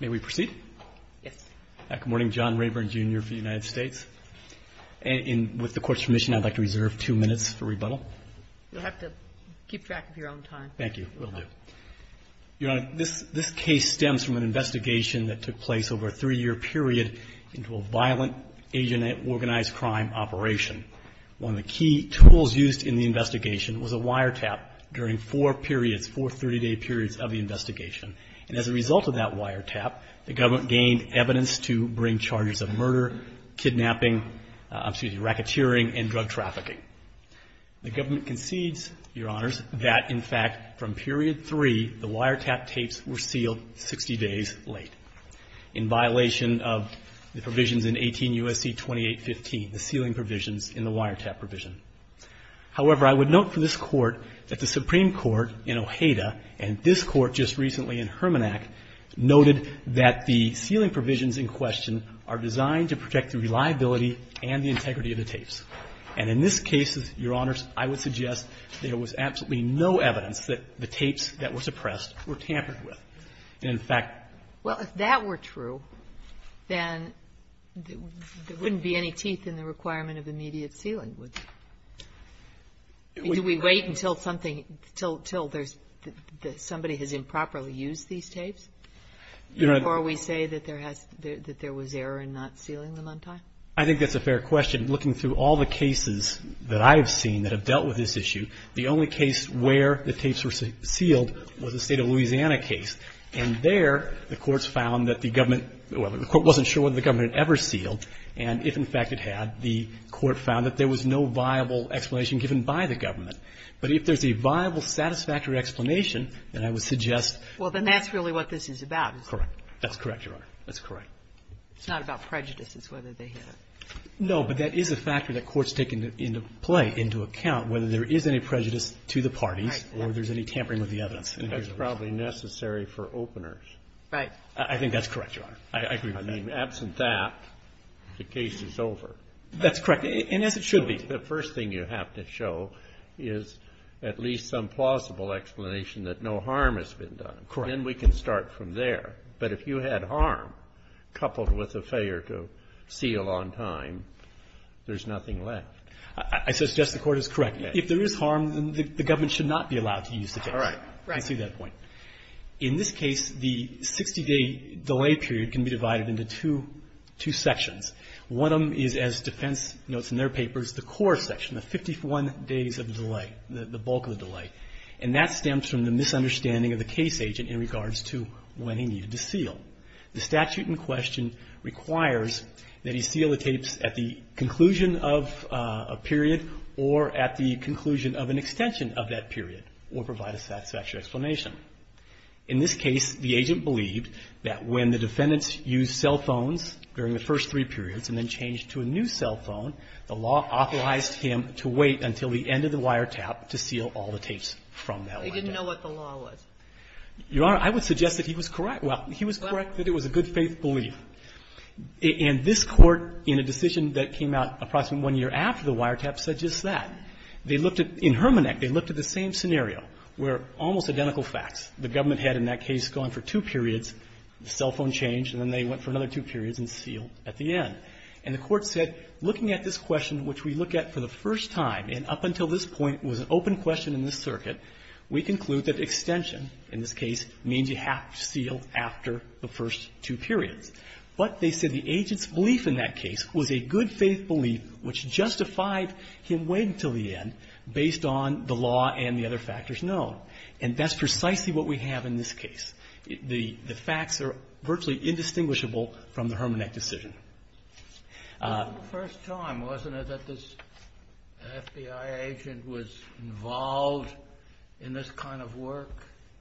May we proceed? Yes. Good morning, John Rayburn Jr. for the United States. And with the Court's permission, I'd like to reserve two minutes for rebuttal. You'll have to keep track of your own time. Thank you. Will do. Your Honor, this case stems from an investigation that took place over a three-year period into a violent Asian organized crime operation. One of the key tools used in the investigation was a wiretap during four periods, four 30-day periods of the investigation. And as a result of that wiretap, the government gained evidence to bring charges of murder, kidnapping, excuse me, racketeering, and drug trafficking. The government concedes, Your Honors, that in fact, from period three, the wiretap tapes were sealed 60 days late in violation of the provisions in 18 U.S.C. 2815, the sealing provisions in the wiretap provision. However, I would note for this Court that the Supreme Court in Ojeda and this Court just recently in Hermannac noted that the sealing provisions in question are designed to protect the reliability and the integrity of the tapes. And in this case, Your Honors, I would suggest there was absolutely no evidence that the tapes that were suppressed were tampered with. And, in fact, Well, if that were true, then there wouldn't be any teeth in the requirement of immediate sealing, would there? Do we wait until something, until there's somebody has improperly used these tapes before we say that there has, that there was error in not sealing them on time? I think that's a fair question. Looking through all the cases that I have seen that have dealt with this issue, the only case where the tapes were sealed was the State of Louisiana case. And there, the courts found that the government, well, the Court wasn't sure whether the government ever sealed. And if, in fact, it had, the Court found that there was no viable explanation given by the government. But if there's a viable satisfactory explanation, then I would suggest Well, then that's really what this is about. Correct. That's correct, Your Honor. That's correct. It's not about prejudices, whether they have No, but that is a factor that courts take into play, into account, whether there is any prejudice to the parties or there's any tampering with the evidence. That's probably necessary for openers. Right. I think that's correct, Your Honor. I agree with that. I mean, absent that, the case is over. That's correct. And as it should be. The first thing you have to show is at least some plausible explanation that no harm has been done. Correct. Then we can start from there. But if you had harm coupled with a failure to seal on time, there's nothing left. I suggest the Court is correct. If there is harm, then the government should not be allowed to use the tapes. All right. I see that point. In this case, the 60-day delay period can be divided into two sections. One of them is, as defense notes in their papers, the core section, the 51 days of delay, the bulk of the delay. And that stems from the misunderstanding of the case agent in regards to when he needed to seal. The statute in question requires that he seal the tapes at the conclusion of a period or at the conclusion of an extension of that period or provide a satisfactory explanation. In this case, the agent believed that when the defendants used cell phones during the first three periods and then changed to a new cell phone, the law authorized him to wait until the end of the wiretap to seal all the tapes from that window. He didn't know what the law was. Your Honor, I would suggest that he was correct. Well, he was correct that it was a good-faith belief. And this Court, in a decision that came out approximately one year after the wiretap, said just that. They looked at the same scenario where almost identical facts. The government had in that case gone for two periods, the cell phone changed, and then they went for another two periods and sealed at the end. And the Court said, looking at this question, which we look at for the first time and up until this point was an open question in this circuit, we conclude that extension in this case means you have to seal after the first two periods. But they said the agent's belief in that case was a good-faith belief which justified him waiting until the end based on the law and the other factors known. And that's precisely what we have in this case. The facts are virtually indistinguishable from the Herman Eck decision. It was the first time, wasn't it, that this FBI agent was involved in this kind of work?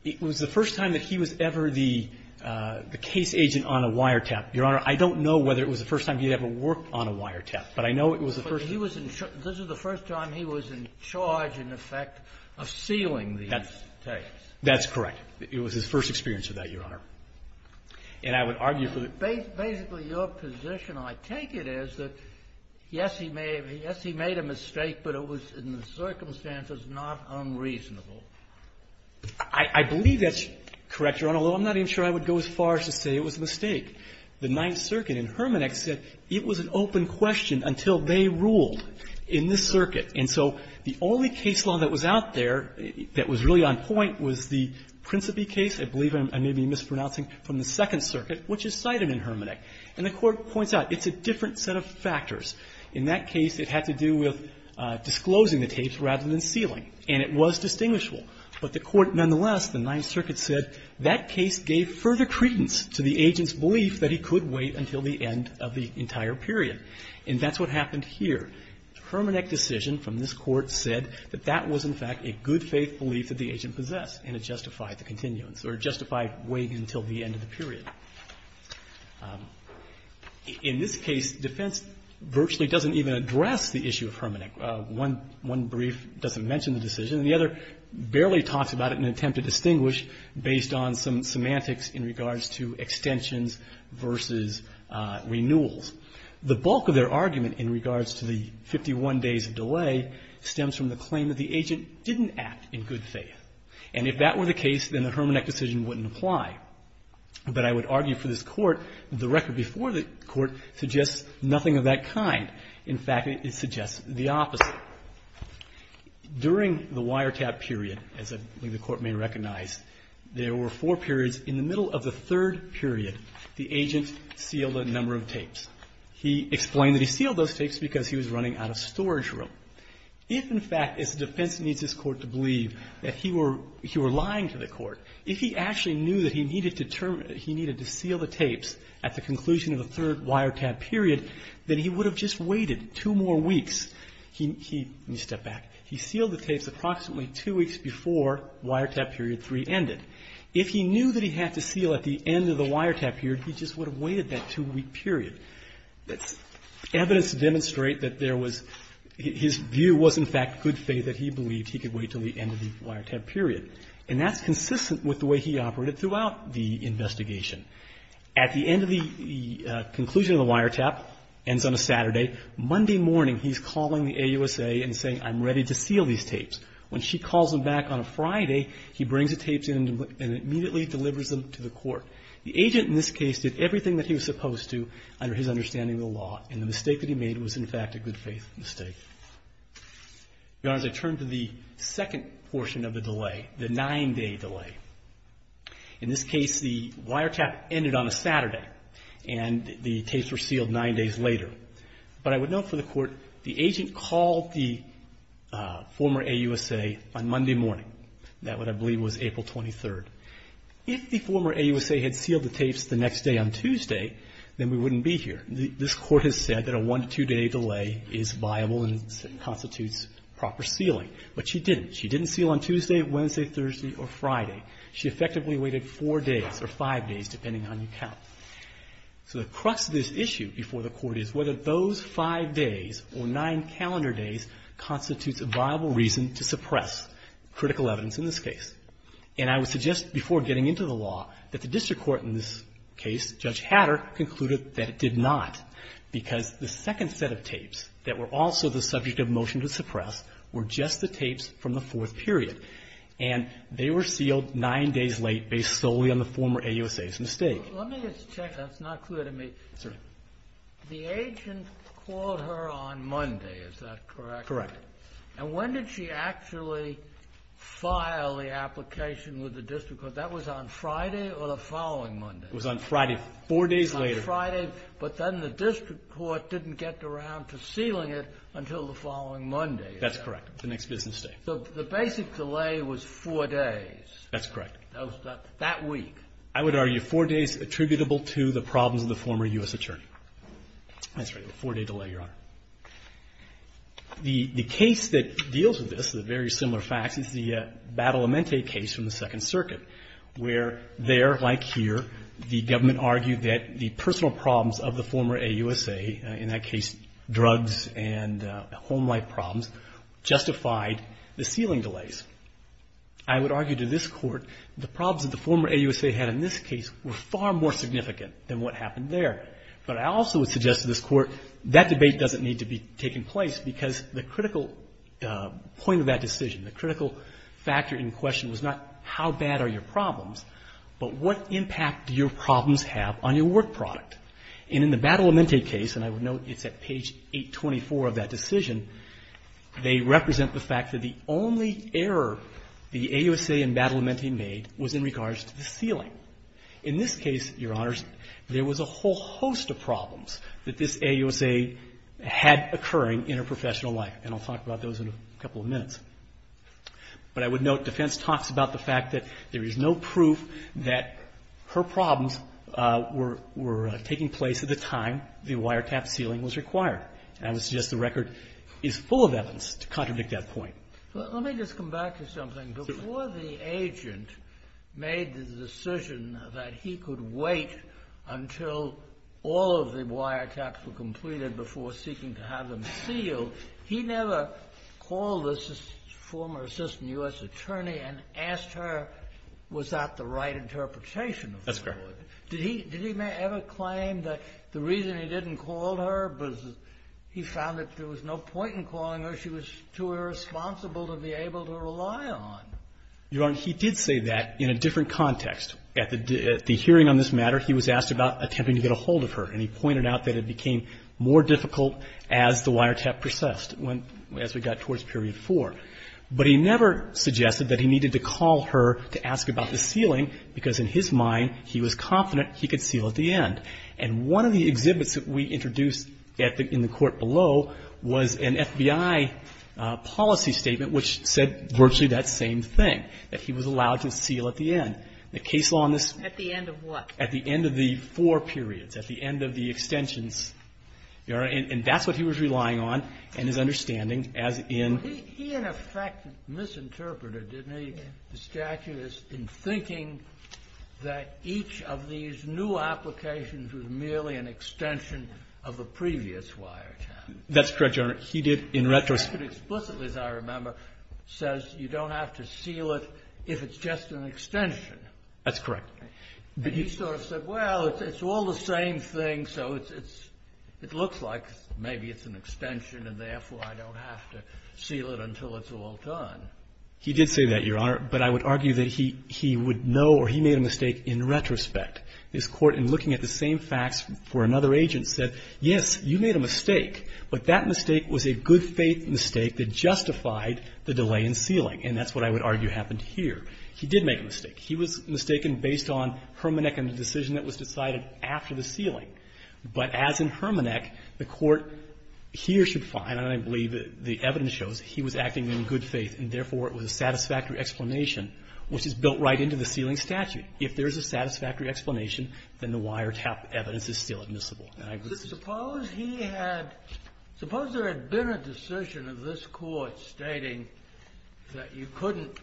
It was the first time that he was ever the case agent on a wiretap, Your Honor. I don't know whether it was the first time he had ever worked on a wiretap, but I know it was the first time. But he was in charge. This was the first time he was in charge, in effect, of sealing these tapes. That's correct. It was his first experience of that, Your Honor. And I would argue for the ---- Basically, your position, I take it, is that, yes, he made a mistake, but it was in the circumstances not unreasonable. I believe that's correct, Your Honor, although I'm not even sure I would go as far as to say it was a mistake. The Ninth Circuit in Herman Eck said it was an open question until they ruled in this circuit. And so the only case law that was out there that was really on point was the Principi case, I believe I may be mispronouncing, from the Second Circuit, which is cited in Herman Eck. And the Court points out it's a different set of factors. In that case, it had to do with disclosing the tapes rather than sealing. And it was distinguishable. But the Court, nonetheless, the Ninth Circuit said that case gave further credence to the agent's belief that he could wait until the end of the entire period. And that's what happened here. The Herman Eck decision from this Court said that that was, in fact, a good faith belief that the agent possessed, and it justified the continuance, or it justified waiting until the end of the period. In this case, defense virtually doesn't even address the issue of Herman Eck. One brief doesn't mention the decision, and the other barely talks about it in an attempt to distinguish based on some semantics in regards to extensions versus renewals. The bulk of their argument in regards to the 51 days of delay stems from the claim that the agent didn't act in good faith. And if that were the case, then the Herman Eck decision wouldn't apply. But I would argue for this Court that the record before the Court suggests nothing of that kind. In fact, it suggests the opposite. During the wiretap period, as I believe the Court may recognize, there were four periods. In the middle of the third period, the agent sealed a number of tapes. He explained that he sealed those tapes because he was running out of storage room. If, in fact, it's the defense that needs this Court to believe that he were lying to the Court, if he actually knew that he needed to seal the tapes at the conclusion of the third wiretap period, then he would have just waited two more weeks. Let me step back. He sealed the tapes approximately two weeks before wiretap period three ended. If he knew that he had to seal at the end of the wiretap period, he just would have waited that two-week period. Evidence to demonstrate that there was his view was, in fact, good faith that he believed he could wait until the end of the wiretap period. And that's consistent with the way he operated throughout the investigation. At the end of the conclusion of the wiretap, ends on a Saturday, Monday morning he's calling the AUSA and saying, I'm ready to seal these tapes. When she calls him back on a Friday, he brings the tapes in and immediately delivers them to the Court. The agent in this case did everything that he was supposed to under his understanding of the law, and the mistake that he made was, in fact, a good faith mistake. Your Honor, as I turn to the second portion of the delay, the nine-day delay. In this case, the wiretap ended on a Saturday, and the tapes were sealed nine days later. But I would note for the Court, the agent called the former AUSA on Monday morning. That, what I believe, was April 23rd. If the former AUSA had sealed the tapes the next day on Tuesday, then we wouldn't be here. This Court has said that a one- to two-day delay is viable and constitutes proper sealing. But she didn't. She didn't seal on Tuesday, Wednesday, Thursday, or Friday. She effectively waited four days or five days, depending on your count. So the crux of this issue before the Court is whether those five days or nine calendar days constitutes a viable reason to suppress critical evidence in this case. And I would suggest, before getting into the law, that the District Court in this case, Judge Hatter, concluded that it did not, because the second set of tapes that were also the subject of motion to suppress were just the tapes from the fourth period. And they were sealed nine days late, based solely on the former AUSA's mistake. Let me just check. That's not clear to me. Sorry. The agent called her on Monday, is that correct? Correct. And when did she actually file the application with the District Court? That was on Friday or the following Monday? It was on Friday, four days later. On Friday, but then the District Court didn't get around to sealing it until the following Monday. That's correct, the next business day. So the basic delay was four days. That's correct. That week. I would argue four days attributable to the problems of the former U.S. attorney. That's right, a four-day delay, Your Honor. The case that deals with this, the very similar facts, is the Battle of Mente case from the Second Circuit, where there, like here, the government argued that the personal drugs and home life problems justified the sealing delays. I would argue to this Court the problems that the former AUSA had in this case were far more significant than what happened there. But I also would suggest to this Court that debate doesn't need to be taking place because the critical point of that decision, the critical factor in question was not how bad are your problems, but what impact do your problems have on your work product. And in the Battle of Mente case, and I would note it's at page 824 of that decision, they represent the fact that the only error the AUSA in Battle of Mente made was in regards to the sealing. In this case, Your Honors, there was a whole host of problems that this AUSA had occurring in her professional life, and I'll talk about those in a couple of minutes. But I would note defense talks about the fact that there is no proof that her problems were taking place at the time the wiretap sealing was required. And I would suggest the record is full of evidence to contradict that point. Let me just come back to something. Before the agent made the decision that he could wait until all of the wiretaps were completed before seeking to have them sealed, he never called the former assistant U.S. That's correct. Did he ever claim that the reason he didn't call her was he found that there was no point in calling her. She was too irresponsible to be able to rely on. Your Honor, he did say that in a different context. At the hearing on this matter, he was asked about attempting to get a hold of her, and he pointed out that it became more difficult as the wiretap persisted, as we got towards period 4. But he never suggested that he needed to call her to ask about the sealing, because in his mind, he was confident he could seal at the end. And one of the exhibits that we introduced in the court below was an FBI policy statement which said virtually that same thing, that he was allowed to seal at the end. The case law on this ---- At the end of what? At the end of the four periods, at the end of the extensions. Your Honor, and that's what he was relying on and his understanding as in ---- He, in effect, misinterpreted, didn't he, the statute, in thinking that each of these new applications was merely an extension of the previous wiretap. That's correct, Your Honor. He did, in retrospect ---- Explicitly, as I remember, says you don't have to seal it if it's just an extension. That's correct. And he sort of said, well, it's all the same thing, so it looks like maybe it's an extension and therefore I don't have to seal it until it's all done. He did say that, Your Honor, but I would argue that he would know or he made a mistake in retrospect. This Court, in looking at the same facts for another agent, said, yes, you made a mistake, but that mistake was a good faith mistake that justified the delay in sealing, and that's what I would argue happened here. He did make a mistake. He was mistaken based on Hermannek and the decision that was decided after the sealing. But as in Hermannek, the Court here should find, and I believe the evidence shows, he was acting in good faith, and therefore it was a satisfactory explanation, which is built right into the sealing statute. If there is a satisfactory explanation, then the wiretap evidence is still admissible. And I would ---- Suppose he had ---- suppose there had been a decision of this Court stating that you couldn't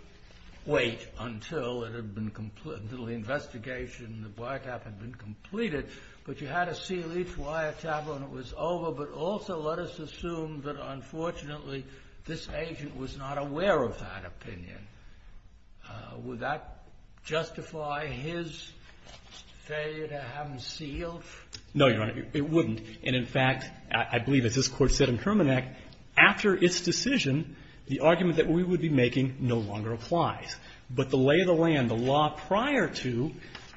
wait until it had been ---- until the investigation and the wiretap had been completed, but you had to seal each wiretap when it was over, but also let us assume that unfortunately this agent was not aware of that opinion. Would that justify his failure to have them sealed? No, Your Honor. It wouldn't. And in fact, I believe as this Court said in Hermannek, after its decision, the argument that we would be making no longer applies. But the lay of the land, the law prior to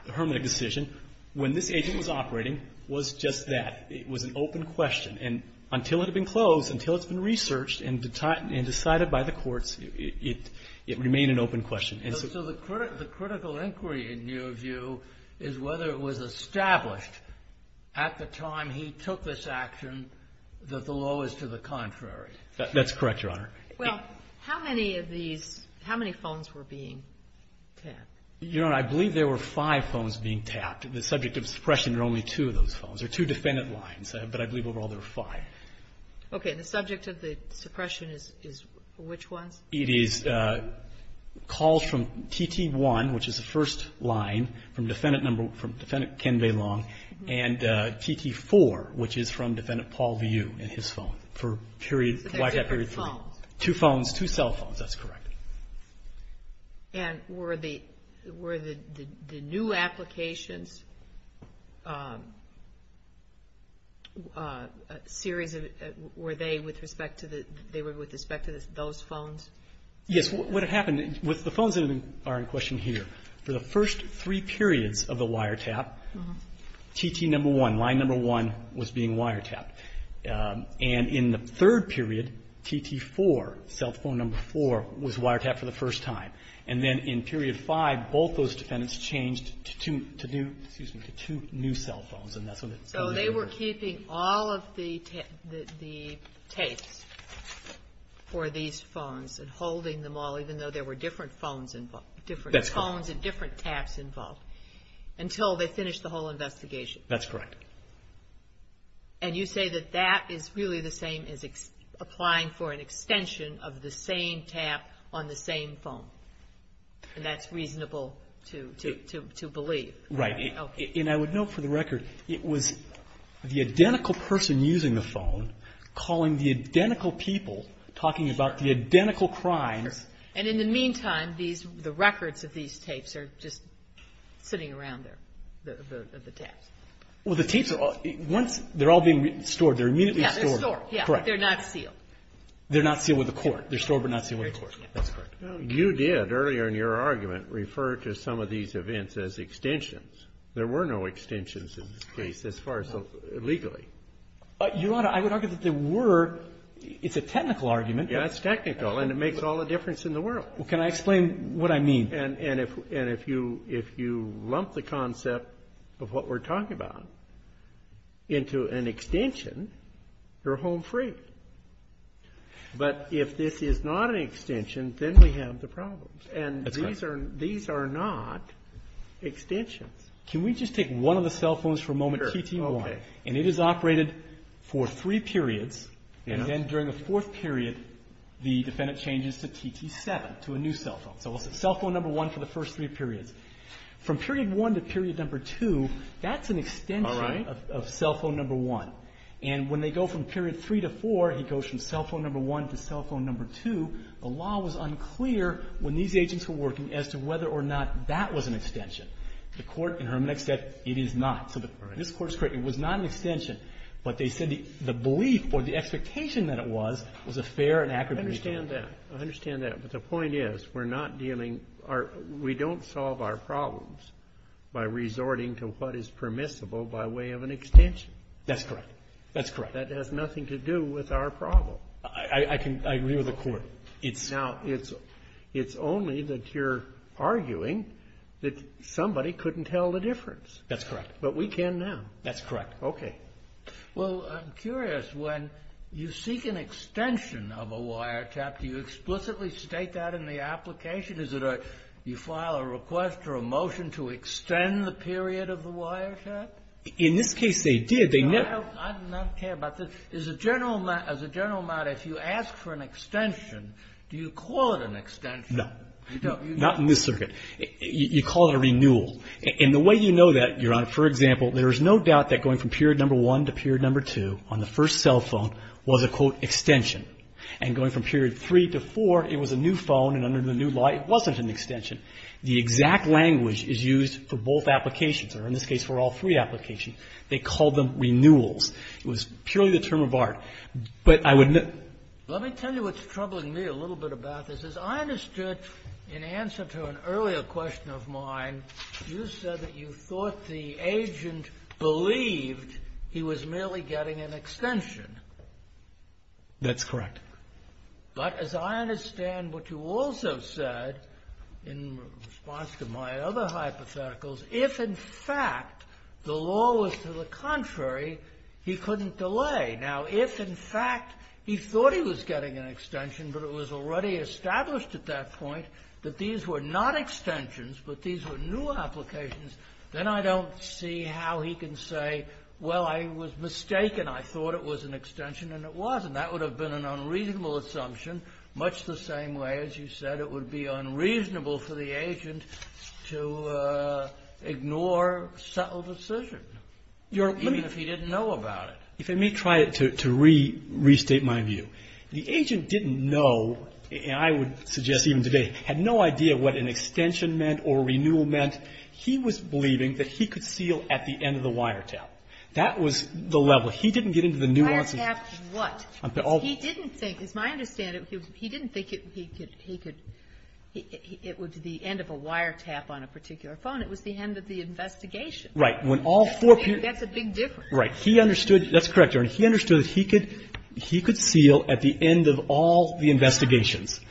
the Hermannek decision, when this agent was operating, was just that. It was an open question. And until it had been closed, until it's been researched and decided by the courts, it remained an open question. So the critical inquiry in your view is whether it was established at the time he took this action that the law was to the contrary. That's correct, Your Honor. Well, how many of these ---- how many phones were being tapped? Your Honor, I believe there were five phones being tapped. The subject of suppression are only two of those phones. There are two defendant lines, but I believe overall there are five. Okay. And the subject of the suppression is which ones? It is calls from TT1, which is the first line, from defendant number ---- from defendant Ken Valong, and TT4, which is from defendant Paul Vu and his phone for period ---- Two phones, two cell phones. That's correct. And were the new applications a series of ---- were they with respect to the ---- they were with respect to those phones? Yes. What had happened, with the phones that are in question here, for the first three periods of the wire tap, TT1, line number one, was being wire tapped. And in the third period, TT4, cell phone number four, was wire tapped for the first time. And then in period five, both those defendants changed to two new cell phones. And that's when the ---- So they were keeping all of the tapes for these phones and holding them all, even though there were different phones involved, different phones and different taps involved, until they finished the whole investigation. That's correct. And you say that that is really the same as applying for an extension of the same tap on the same phone. And that's reasonable to believe. Right. Okay. And I would note, for the record, it was the identical person using the phone, calling the identical people, talking about the identical crimes. And in the meantime, the records of these tapes are just sitting around there, the taps. Well, the tapes, once they're all being stored, they're immediately stored. Yeah, they're stored. Correct. They're not sealed. They're not sealed with a court. They're stored but not sealed with a court. That's correct. You did, earlier in your argument, refer to some of these events as extensions. There were no extensions in this case, as far as legally. Your Honor, I would argue that there were. It's a technical argument. Yeah, it's technical. And it makes all the difference in the world. Well, can I explain what I mean? And if you lump the concept of what we're talking about into an extension, you're home free. But if this is not an extension, then we have the problems. That's right. And these are not extensions. Can we just take one of the cell phones for a moment, TT1? Sure. Okay. And it is operated for three periods. And then during the fourth period, the defendant changes to TT7, to a new cell phone. So it's cell phone number 1 for the first three periods. From period 1 to period number 2, that's an extension of cell phone number 1. All right. And when they go from period 3 to 4, he goes from cell phone number 1 to cell phone number 2. The law was unclear when these agents were working as to whether or not that was an extension. The court, in her next step, it is not. So this Court is correct. It was not an extension. But they said the belief or the expectation that it was, was a fair and accurate reason. I understand that. I understand that. But the point is, we're not dealing, we don't solve our problems by resorting to what is permissible by way of an extension. That's correct. That's correct. That has nothing to do with our problem. I agree with the Court. Now, it's only that you're arguing that somebody couldn't tell the difference. That's correct. But we can now. That's correct. Okay. Well, I'm curious. When you seek an extension of a wiretap, do you explicitly state that in the application? Is it a, you file a request or a motion to extend the period of the wiretap? In this case, they did. I don't care about this. As a general matter, if you ask for an extension, do you call it an extension? No. Not in this circuit. You call it a renewal. And the way you know that, Your Honor, for example, there is no doubt that going from period number one to period number two on the first cell phone was a, quote, extension. And going from period three to four, it was a new phone, and under the new law, it wasn't an extension. The exact language is used for both applications, or in this case, for all three applications. They called them renewals. It was purely the term of art. But I would. Let me tell you what's troubling me a little bit about this. As I understood, in answer to an earlier question of mine, you said that you thought the agent believed he was merely getting an extension. That's correct. But as I understand what you also said in response to my other hypotheticals, if in fact the law was to the contrary, he couldn't delay. Now, if in fact he thought he was getting an extension, but it was already established at that point that these were not extensions, but these were new applications, then I don't see how he can say, well, I was mistaken. I thought it was an extension, and it wasn't. That would have been an unreasonable assumption, much the same way, as you said, it would be unreasonable for the agent to ignore subtle decision, even if he didn't know about it. If I may try to restate my view, the agent didn't know, and I would suggest even today, had no idea what an extension meant or renewal meant. He was believing that he could seal at the end of the wiretap. That was the level. He didn't get into the nuances. Wiretap what? He didn't think, as I understand it, he didn't think it would be the end of a wiretap on a particular phone. It was the end of the investigation. Right. That's a big difference. Right. He understood, that's correct, Your Honor, he understood that he could seal at the end of all the investigations.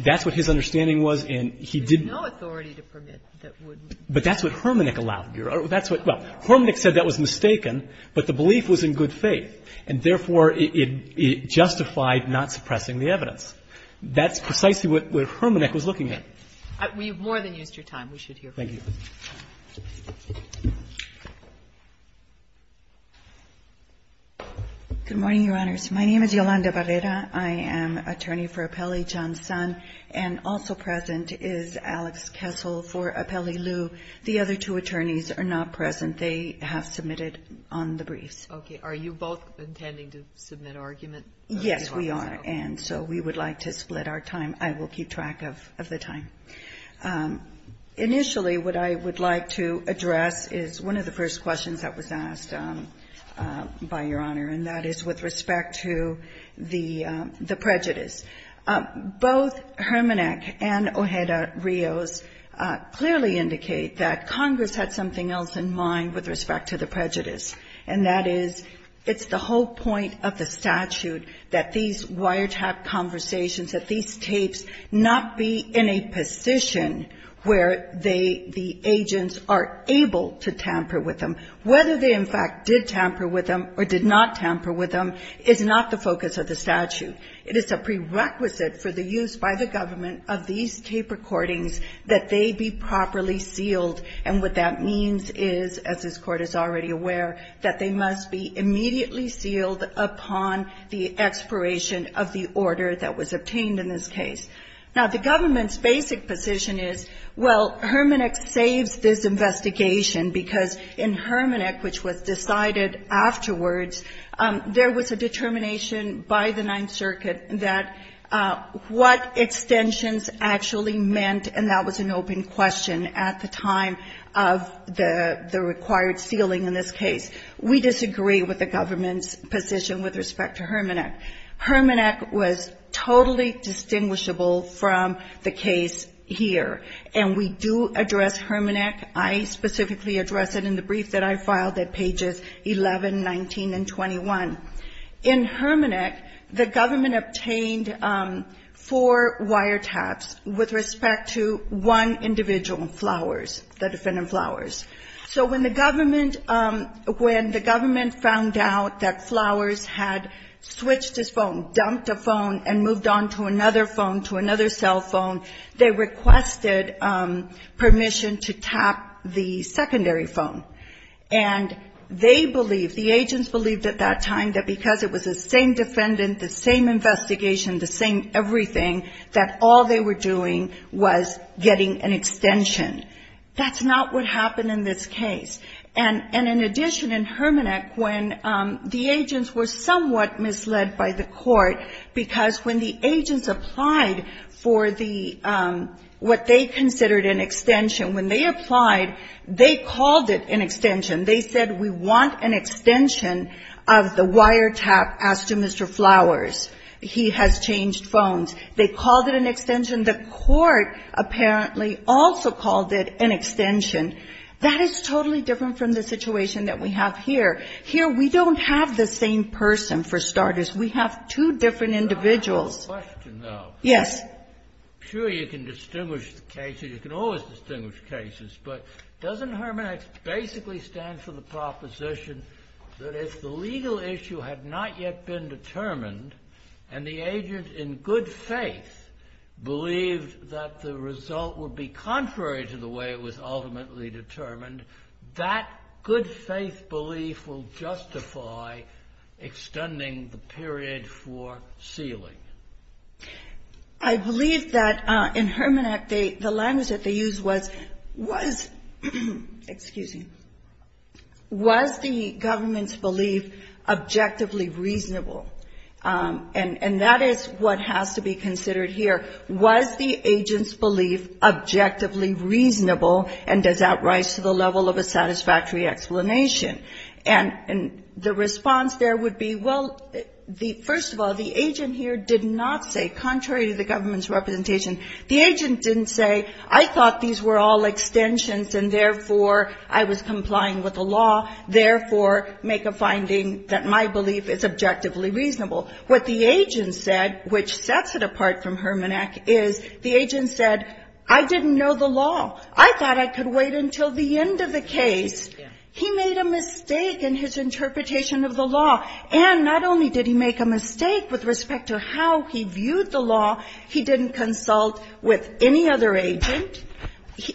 That's what his understanding was, and he didn't. There's no authority to permit that would. But that's what Hermanick allowed. That's what, well, Hermanick said that was mistaken, but the belief was in good faith, and therefore, it justified not suppressing the evidence. That's precisely what Hermanick was looking at. Okay. We have more than used your time. We should hear from you. Thank you. Good morning, Your Honors. My name is Yolanda Barrera. I am attorney for Apelli Johnson, and also present is Alex Kessel for Apelli Liu. The other two attorneys are not present. They have submitted on the briefs. Okay. Are you both intending to submit argument? Yes, we are. And so we would like to split our time. I will keep track of the time. Initially, what I would like to address is one of the first questions that was asked by Your Honor, and that is with respect to the prejudice. Both Hermanick and Ojeda-Rios clearly indicate that Congress had something else in mind with respect to the prejudice, and that is it's the whole point of the statute that these wiretap conversations, that these tapes not be in a position where they, the agents, are able to tamper with them. Whether they, in fact, did tamper with them or did not tamper with them is not the focus of the statute. It is a prerequisite for the use by the government of these tape recordings that they be properly sealed, and what that means is, as this Court is already aware, that they must be immediately sealed upon the expiration of the order that was obtained in this case. Now, the government's basic position is, well, Hermanick saves this investigation because in Hermanick, which was decided afterwards, there was a determination by the Ninth Circuit that what extensions actually meant, and that was an open question at the time of the required sealing in this case. We disagree with the government's position with respect to Hermanick. Hermanick was totally distinguishable from the case here, and we do address Hermanick. I specifically address it in the brief that I filed at pages 11, 19, and 21. In Hermanick, the government obtained four wiretaps with respect to one individual, Flowers, the defendant Flowers. So when the government, when the government found out that Flowers had switched his phone, dumped a phone, and moved on to another phone, to another cell phone, they requested permission to tap the secondary phone. And they believed, the agents believed at that time that because it was the same defendant, the same investigation, the same everything, that all they were doing was getting an extension. That's not what happened in this case. And in addition, in Hermanick, when the agents were somewhat misled by the Court, because when the agents applied for the, what they considered an extension, when they applied, they called it an extension. They said, we want an extension of the wiretap as to Mr. Flowers. He has changed phones. They called it an extension. The Court apparently also called it an extension. That is totally different from the situation that we have here. Here, we don't have the same person, for starters. We have two different individuals. Yes. I believe that in Hermanick, the language that they used was, was, excuse me, was the government's belief objectively reasonable? And that is what has to be considered here. Was the agent's belief objectively reasonable, and does that rise to the level of a satisfactory explanation? And the response there would be, well, first of all, the agent here did not say, contrary to the government's representation, the agent didn't say, I thought these were all extensions, and therefore I was complying with the law, therefore make a finding that my belief is objectively reasonable. What the agent said, which sets it apart from Hermanick, is the agent said, I didn't know the law. I thought I could wait until the end of the case. He made a mistake in his interpretation of the law. And not only did he make a mistake with respect to how he viewed the law, he didn't consult with any other agent.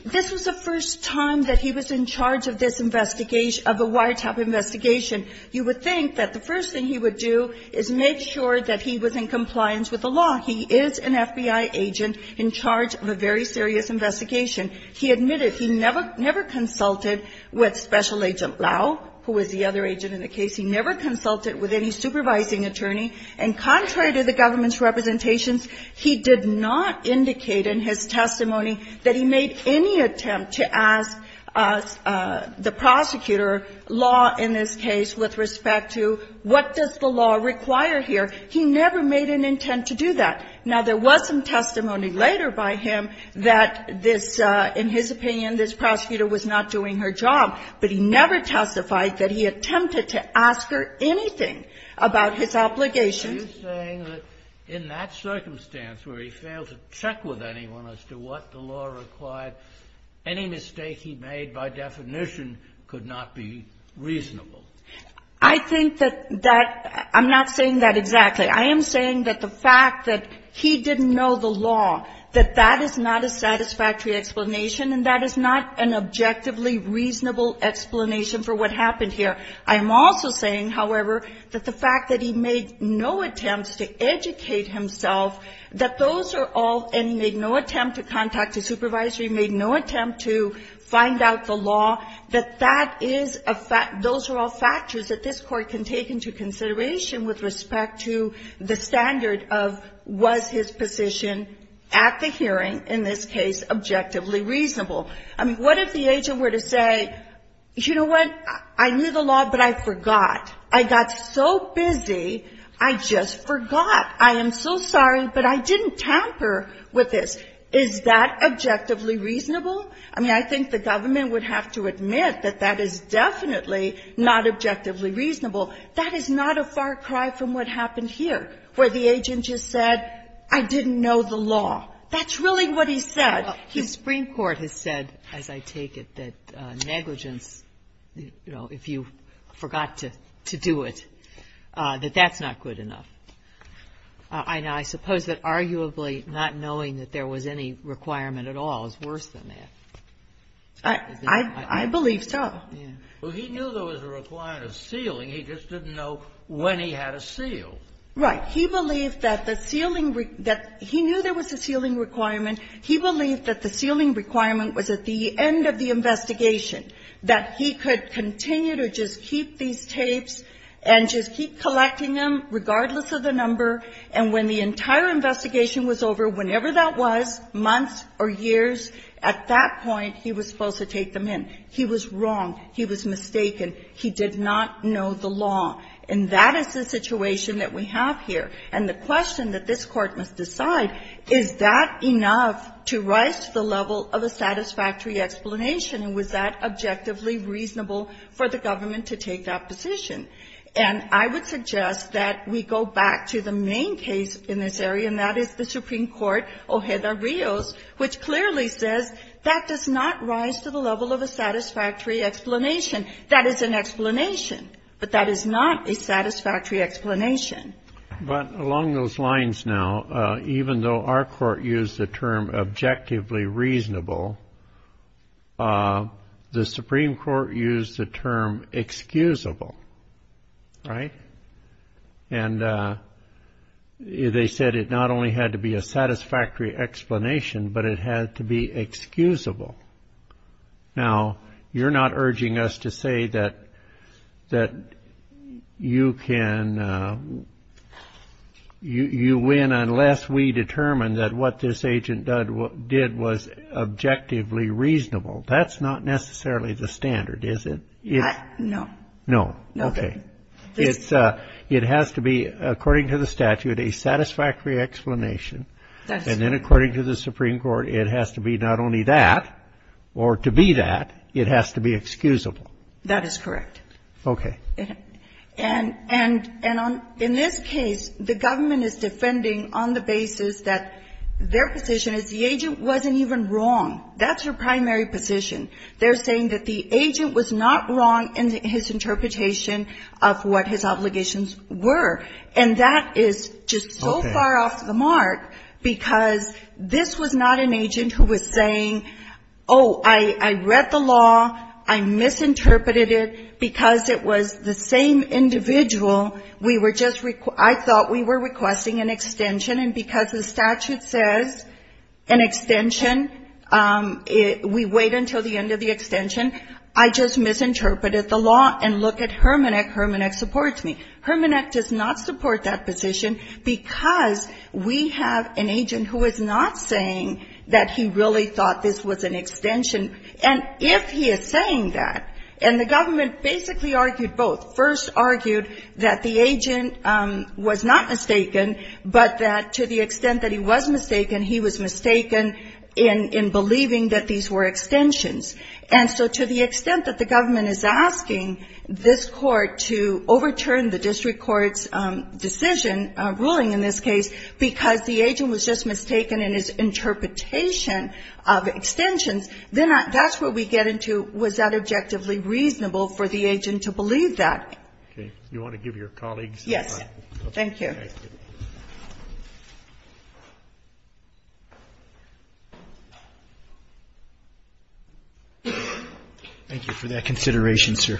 This was the first time that he was in charge of this investigation, of a wiretap investigation. You would think that the first thing he would do is make sure that he was in compliance with the law. He is an FBI agent in charge of a very serious investigation. He admitted he never, never consulted with Special Agent Lau, who was the other agent in the case. He never consulted with any supervising attorney. And contrary to the government's representations, he did not indicate in his testimony that he made any attempt to ask the prosecutor, law in this case, with respect to what does the law require here. He never made an intent to do that. Now, there was some testimony later by him that this, in his opinion, this prosecutor was not doing her job. But he never testified that he attempted to ask her anything about his obligation. Kennedy. Are you saying that in that circumstance where he failed to check with anyone as to what the law required, any mistake he made by definition could not be reasonable? I think that that – I'm not saying that exactly. I am saying that the fact that he didn't know the law, that that is not a satisfactory explanation, and that is not an objectively reasonable explanation for what happened here. I am also saying, however, that the fact that he made no attempts to educate himself, that those are all – and he made no attempt to contact a supervisory, made no attempt to find out the law, that that is a – those are all factors that this Court can take into consideration with respect to the standard of was his position at the hearing, in this case, objectively reasonable. I mean, what if the agent were to say, you know what? I knew the law, but I forgot. I got so busy, I just forgot. I am so sorry, but I didn't tamper with this. Is that objectively reasonable? I mean, I think the government would have to admit that that is definitely not objectively reasonable. That is not a far cry from what happened here, where the agent just said, I didn't know the law. That's really what he said. Kagan. Ginsburg. The Supreme Court has said, as I take it, that negligence, you know, if you forgot to do it, that that's not good enough. I suppose that arguably not knowing that there was any requirement at all is worse than that. I believe so. Well, he knew there was a requirement of sealing. He just didn't know when he had to seal. Right. He believed that the sealing – that he knew there was a sealing requirement. He believed that the sealing requirement was at the end of the investigation, that he could continue to just keep these tapes and just keep collecting them regardless of the number. And when the entire investigation was over, whenever that was, months or years, at that point, he was supposed to take them in. He was wrong. He was mistaken. He did not know the law. And that is the situation that we have here. And the question that this Court must decide, is that enough to rise to the level of a satisfactory explanation? And was that objectively reasonable for the government to take that position? And I would suggest that we go back to the main case in this area, and that is the Supreme Court, Ojeda-Rios, which clearly says that does not rise to the level of a satisfactory explanation. That is an explanation. But that is not a satisfactory explanation. But along those lines now, even though our Court used the term objectively reasonable, the Supreme Court used the term excusable. Right? And they said it not only had to be a satisfactory explanation, but it had to be excusable. Now, you're not urging us to say that you win unless we determine that what this agent did was objectively reasonable. That's not necessarily the standard, is it? No. No. Okay. It has to be, according to the statute, a satisfactory explanation. And then according to the Supreme Court, it has to be not only that, or to be that, it has to be excusable. That is correct. Okay. And in this case, the government is defending on the basis that their position is the agent wasn't even wrong. That's your primary position. They're saying that the agent was not wrong in his interpretation of what his obligations were, and that is just so far off the mark because this was not an agent who was saying, oh, I read the law, I misinterpreted it, because it was the same individual. We were just ‑‑ I thought we were requesting an extension, and because the statute says an extension, we wait until the end of the extension. I just misinterpreted the law. And look at Hermannek. Hermannek supports me. Hermannek does not support that position because we have an agent who is not saying that he really thought this was an extension. And if he is saying that, and the government basically argued both, first argued that the agent was not mistaken, but that to the extent that he was mistaken, he was mistaken in believing that these were extensions. And so to the extent that the government is asking this Court to overturn the district court's decision, ruling in this case, because the agent was just mistaken in his interpretation of extensions, then that's where we get into was that objectively reasonable for the agent to believe that. Okay. You want to give your colleagues the floor? Yes. Thank you. Thank you for that consideration, sir.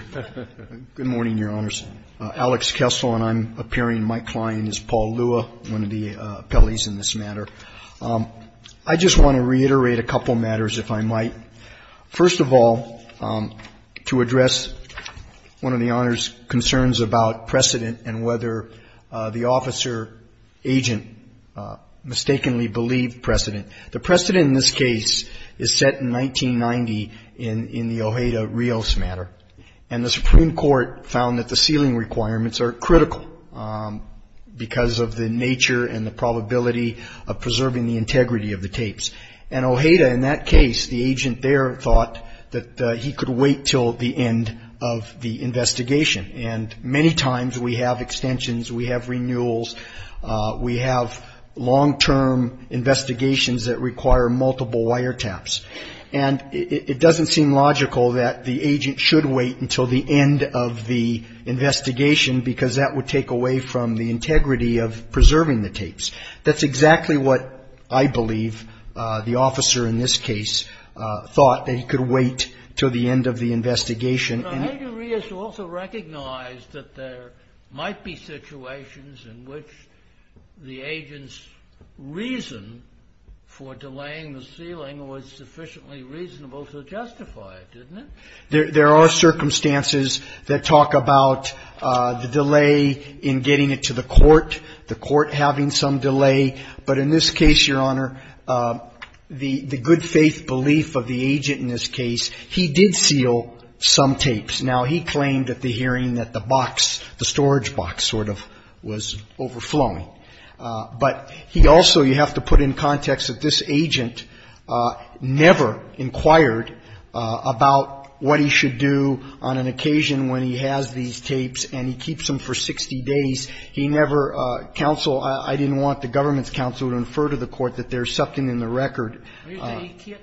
Good morning, Your Honors. Alex Kessel and I'm appearing. My client is Paul Lua, one of the appellees in this matter. I just want to reiterate a couple matters, if I might. First of all, to address one of the Honor's concerns about precedent and whether the officer agent mistakenly believed precedent. The precedent in this case is set in 1990 in the Ojeda-Rios matter. And the Supreme Court found that the sealing requirements are critical because of the nature and the probability of preserving the integrity of the tapes. And Ojeda, in that case, the agent there thought that he could wait until the end of the investigation. And many times we have extensions, we have renewals, we have long-term investigations that require multiple wiretaps. And it doesn't seem logical that the agent should wait until the end of the investigation because that would take away from the integrity of preserving the tapes. That's exactly what I believe the officer in this case thought, that he could wait until the end of the investigation. And Ojeda-Rios also recognized that there might be situations in which the agent's reason for delaying the sealing was sufficiently reasonable to justify it, didn't it? There are circumstances that talk about the delay in getting it to the court, the court having some delay, but in this case, Your Honor, the good faith belief of the agent in this case, he did seal some tapes. Now, he claimed at the hearing that the box, the storage box sort of was overflowing. But he also, you have to put in context that this agent never inquired about what he should do on an occasion when he has these tapes and he keeps them for 60 days. He never counseled. I didn't want the government's counsel to infer to the court that there's something in the record. He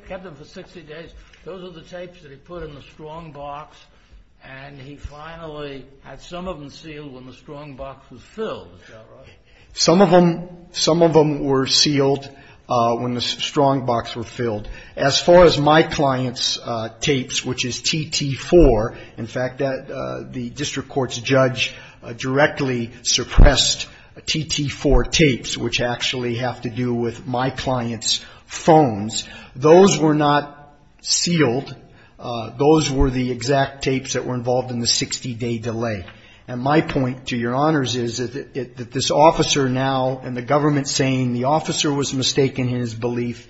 kept them for 60 days. Those are the tapes that he put in the strong box, and he finally had some of them sealed when the strong box was filled. Some of them were sealed when the strong box were filled. As far as my client's tapes, which is TT4, in fact, the district court's judge directly suppressed TT4 tapes, which actually have to do with my client's phones. Those were not sealed. Those were the exact tapes that were involved in the 60-day delay. And my point, to your honors, is that this officer now and the government saying the officer was mistaken in his belief,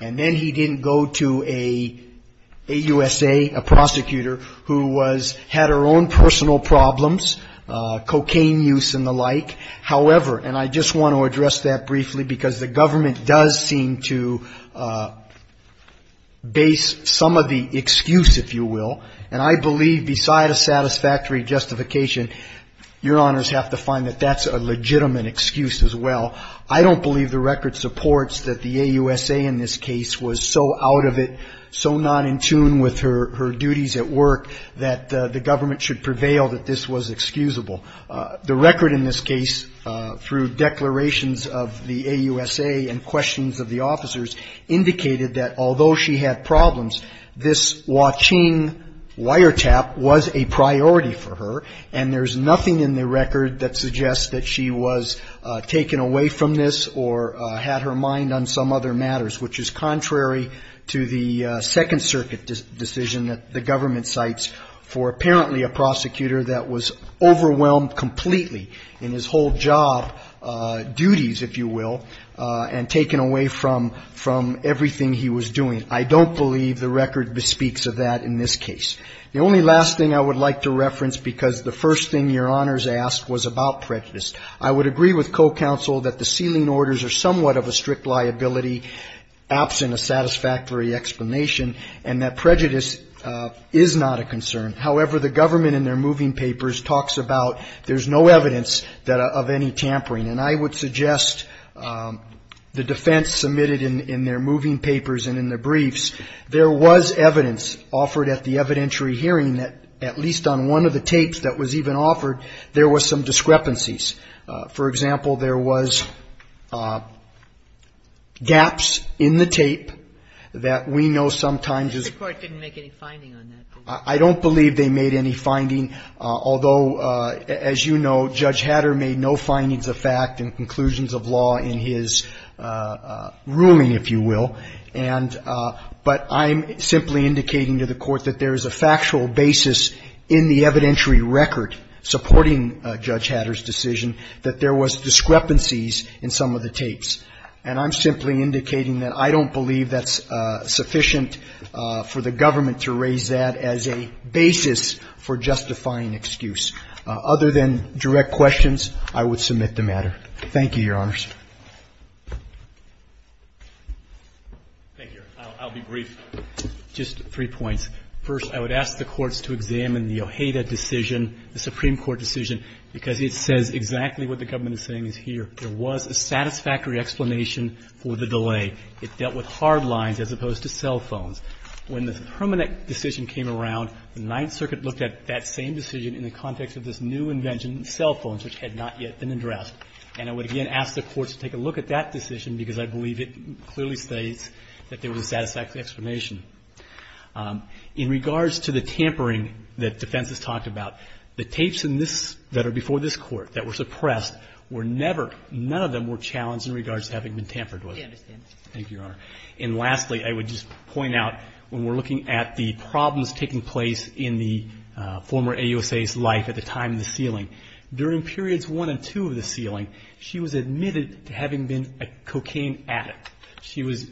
and then he didn't go to a USA, a prosecutor, who had her own personal problems, cocaine use and the like. However, and I just want to address that briefly because the government does seem to base some of the Your honors have to find that that's a legitimate excuse as well. I don't believe the record supports that the AUSA in this case was so out of it, so not in tune with her duties at work that the government should prevail that this was excusable. The record in this case, through declarations of the AUSA and questions of the officers, indicated that although she had problems, this Huaqing wiretap was a priority for her, and there's nothing in the record that suggests that she was taken away from this or had her mind on some other matters, which is contrary to the Second Circuit decision that the government cites for apparently a prosecutor that was overwhelmed completely in his whole job, duties, if you will, and taken away from, everything he was doing. I don't believe the record speaks of that in this case. The only last thing I would like to reference, because the first thing Your honors asked was about prejudice, I would agree with co-counsel that the sealing orders are somewhat of a strict liability absent a satisfactory explanation, and that prejudice is not a concern. However, the government in their moving papers talks about there's no evidence of any tampering, and I would suggest the defense submitted in their moving papers and in their briefs, there was evidence offered at the evidentiary hearing that at least on one of the tapes that was even offered, there was some discrepancies. For example, there was gaps in the tape that we know sometimes is. The court didn't make any finding on that. I don't believe they made any finding, although, as you know, Judge Hatter made no findings of fact in conclusions of law in his ruling, if you will. And, but I'm simply indicating to the court that there is a factual basis in the evidentiary record supporting Judge Hatter's decision that there was discrepancies in some of the tapes. And I'm simply indicating that I don't believe that's sufficient for the government to raise that as a basis for justifying excuse. Other than direct questions, I would submit the matter. Thank you, Your Honors. Thank you. I'll be brief. Just three points. First, I would ask the courts to examine the Ojeda decision, the Supreme Court decision, because it says exactly what the government is saying is here. There was a satisfactory explanation for the delay. It dealt with hard lines as opposed to cell phones. When the permanent decision came around, the Ninth Circuit looked at that same decision in the context of this new invention, cell phones, which had not yet been addressed. And I would again ask the courts to take a look at that decision, because I believe it clearly states that there was a satisfactory explanation. In regards to the tampering that defense has talked about, the tapes in this that are before this Court that were suppressed were never, none of them were challenged in regards to having been tampered with. I understand. Thank you, Your Honor. And lastly, I would just point out, when we're looking at the problems taking place in the former AUSA's life at the time of the sealing, during periods one and two of the sealing, she was admitted to having been a cocaine addict. She was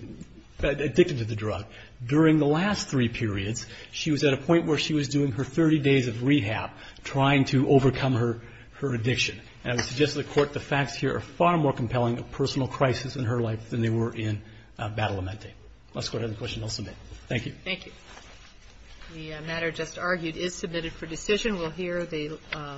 addicted to the drug. During the last three periods, she was at a point where she was doing her 30 days of her addiction. And I would suggest to the Court the facts here are far more compelling of personal crisis in her life than they were in Battle Amente. Unless the Court has a question, I'll submit. Thank you.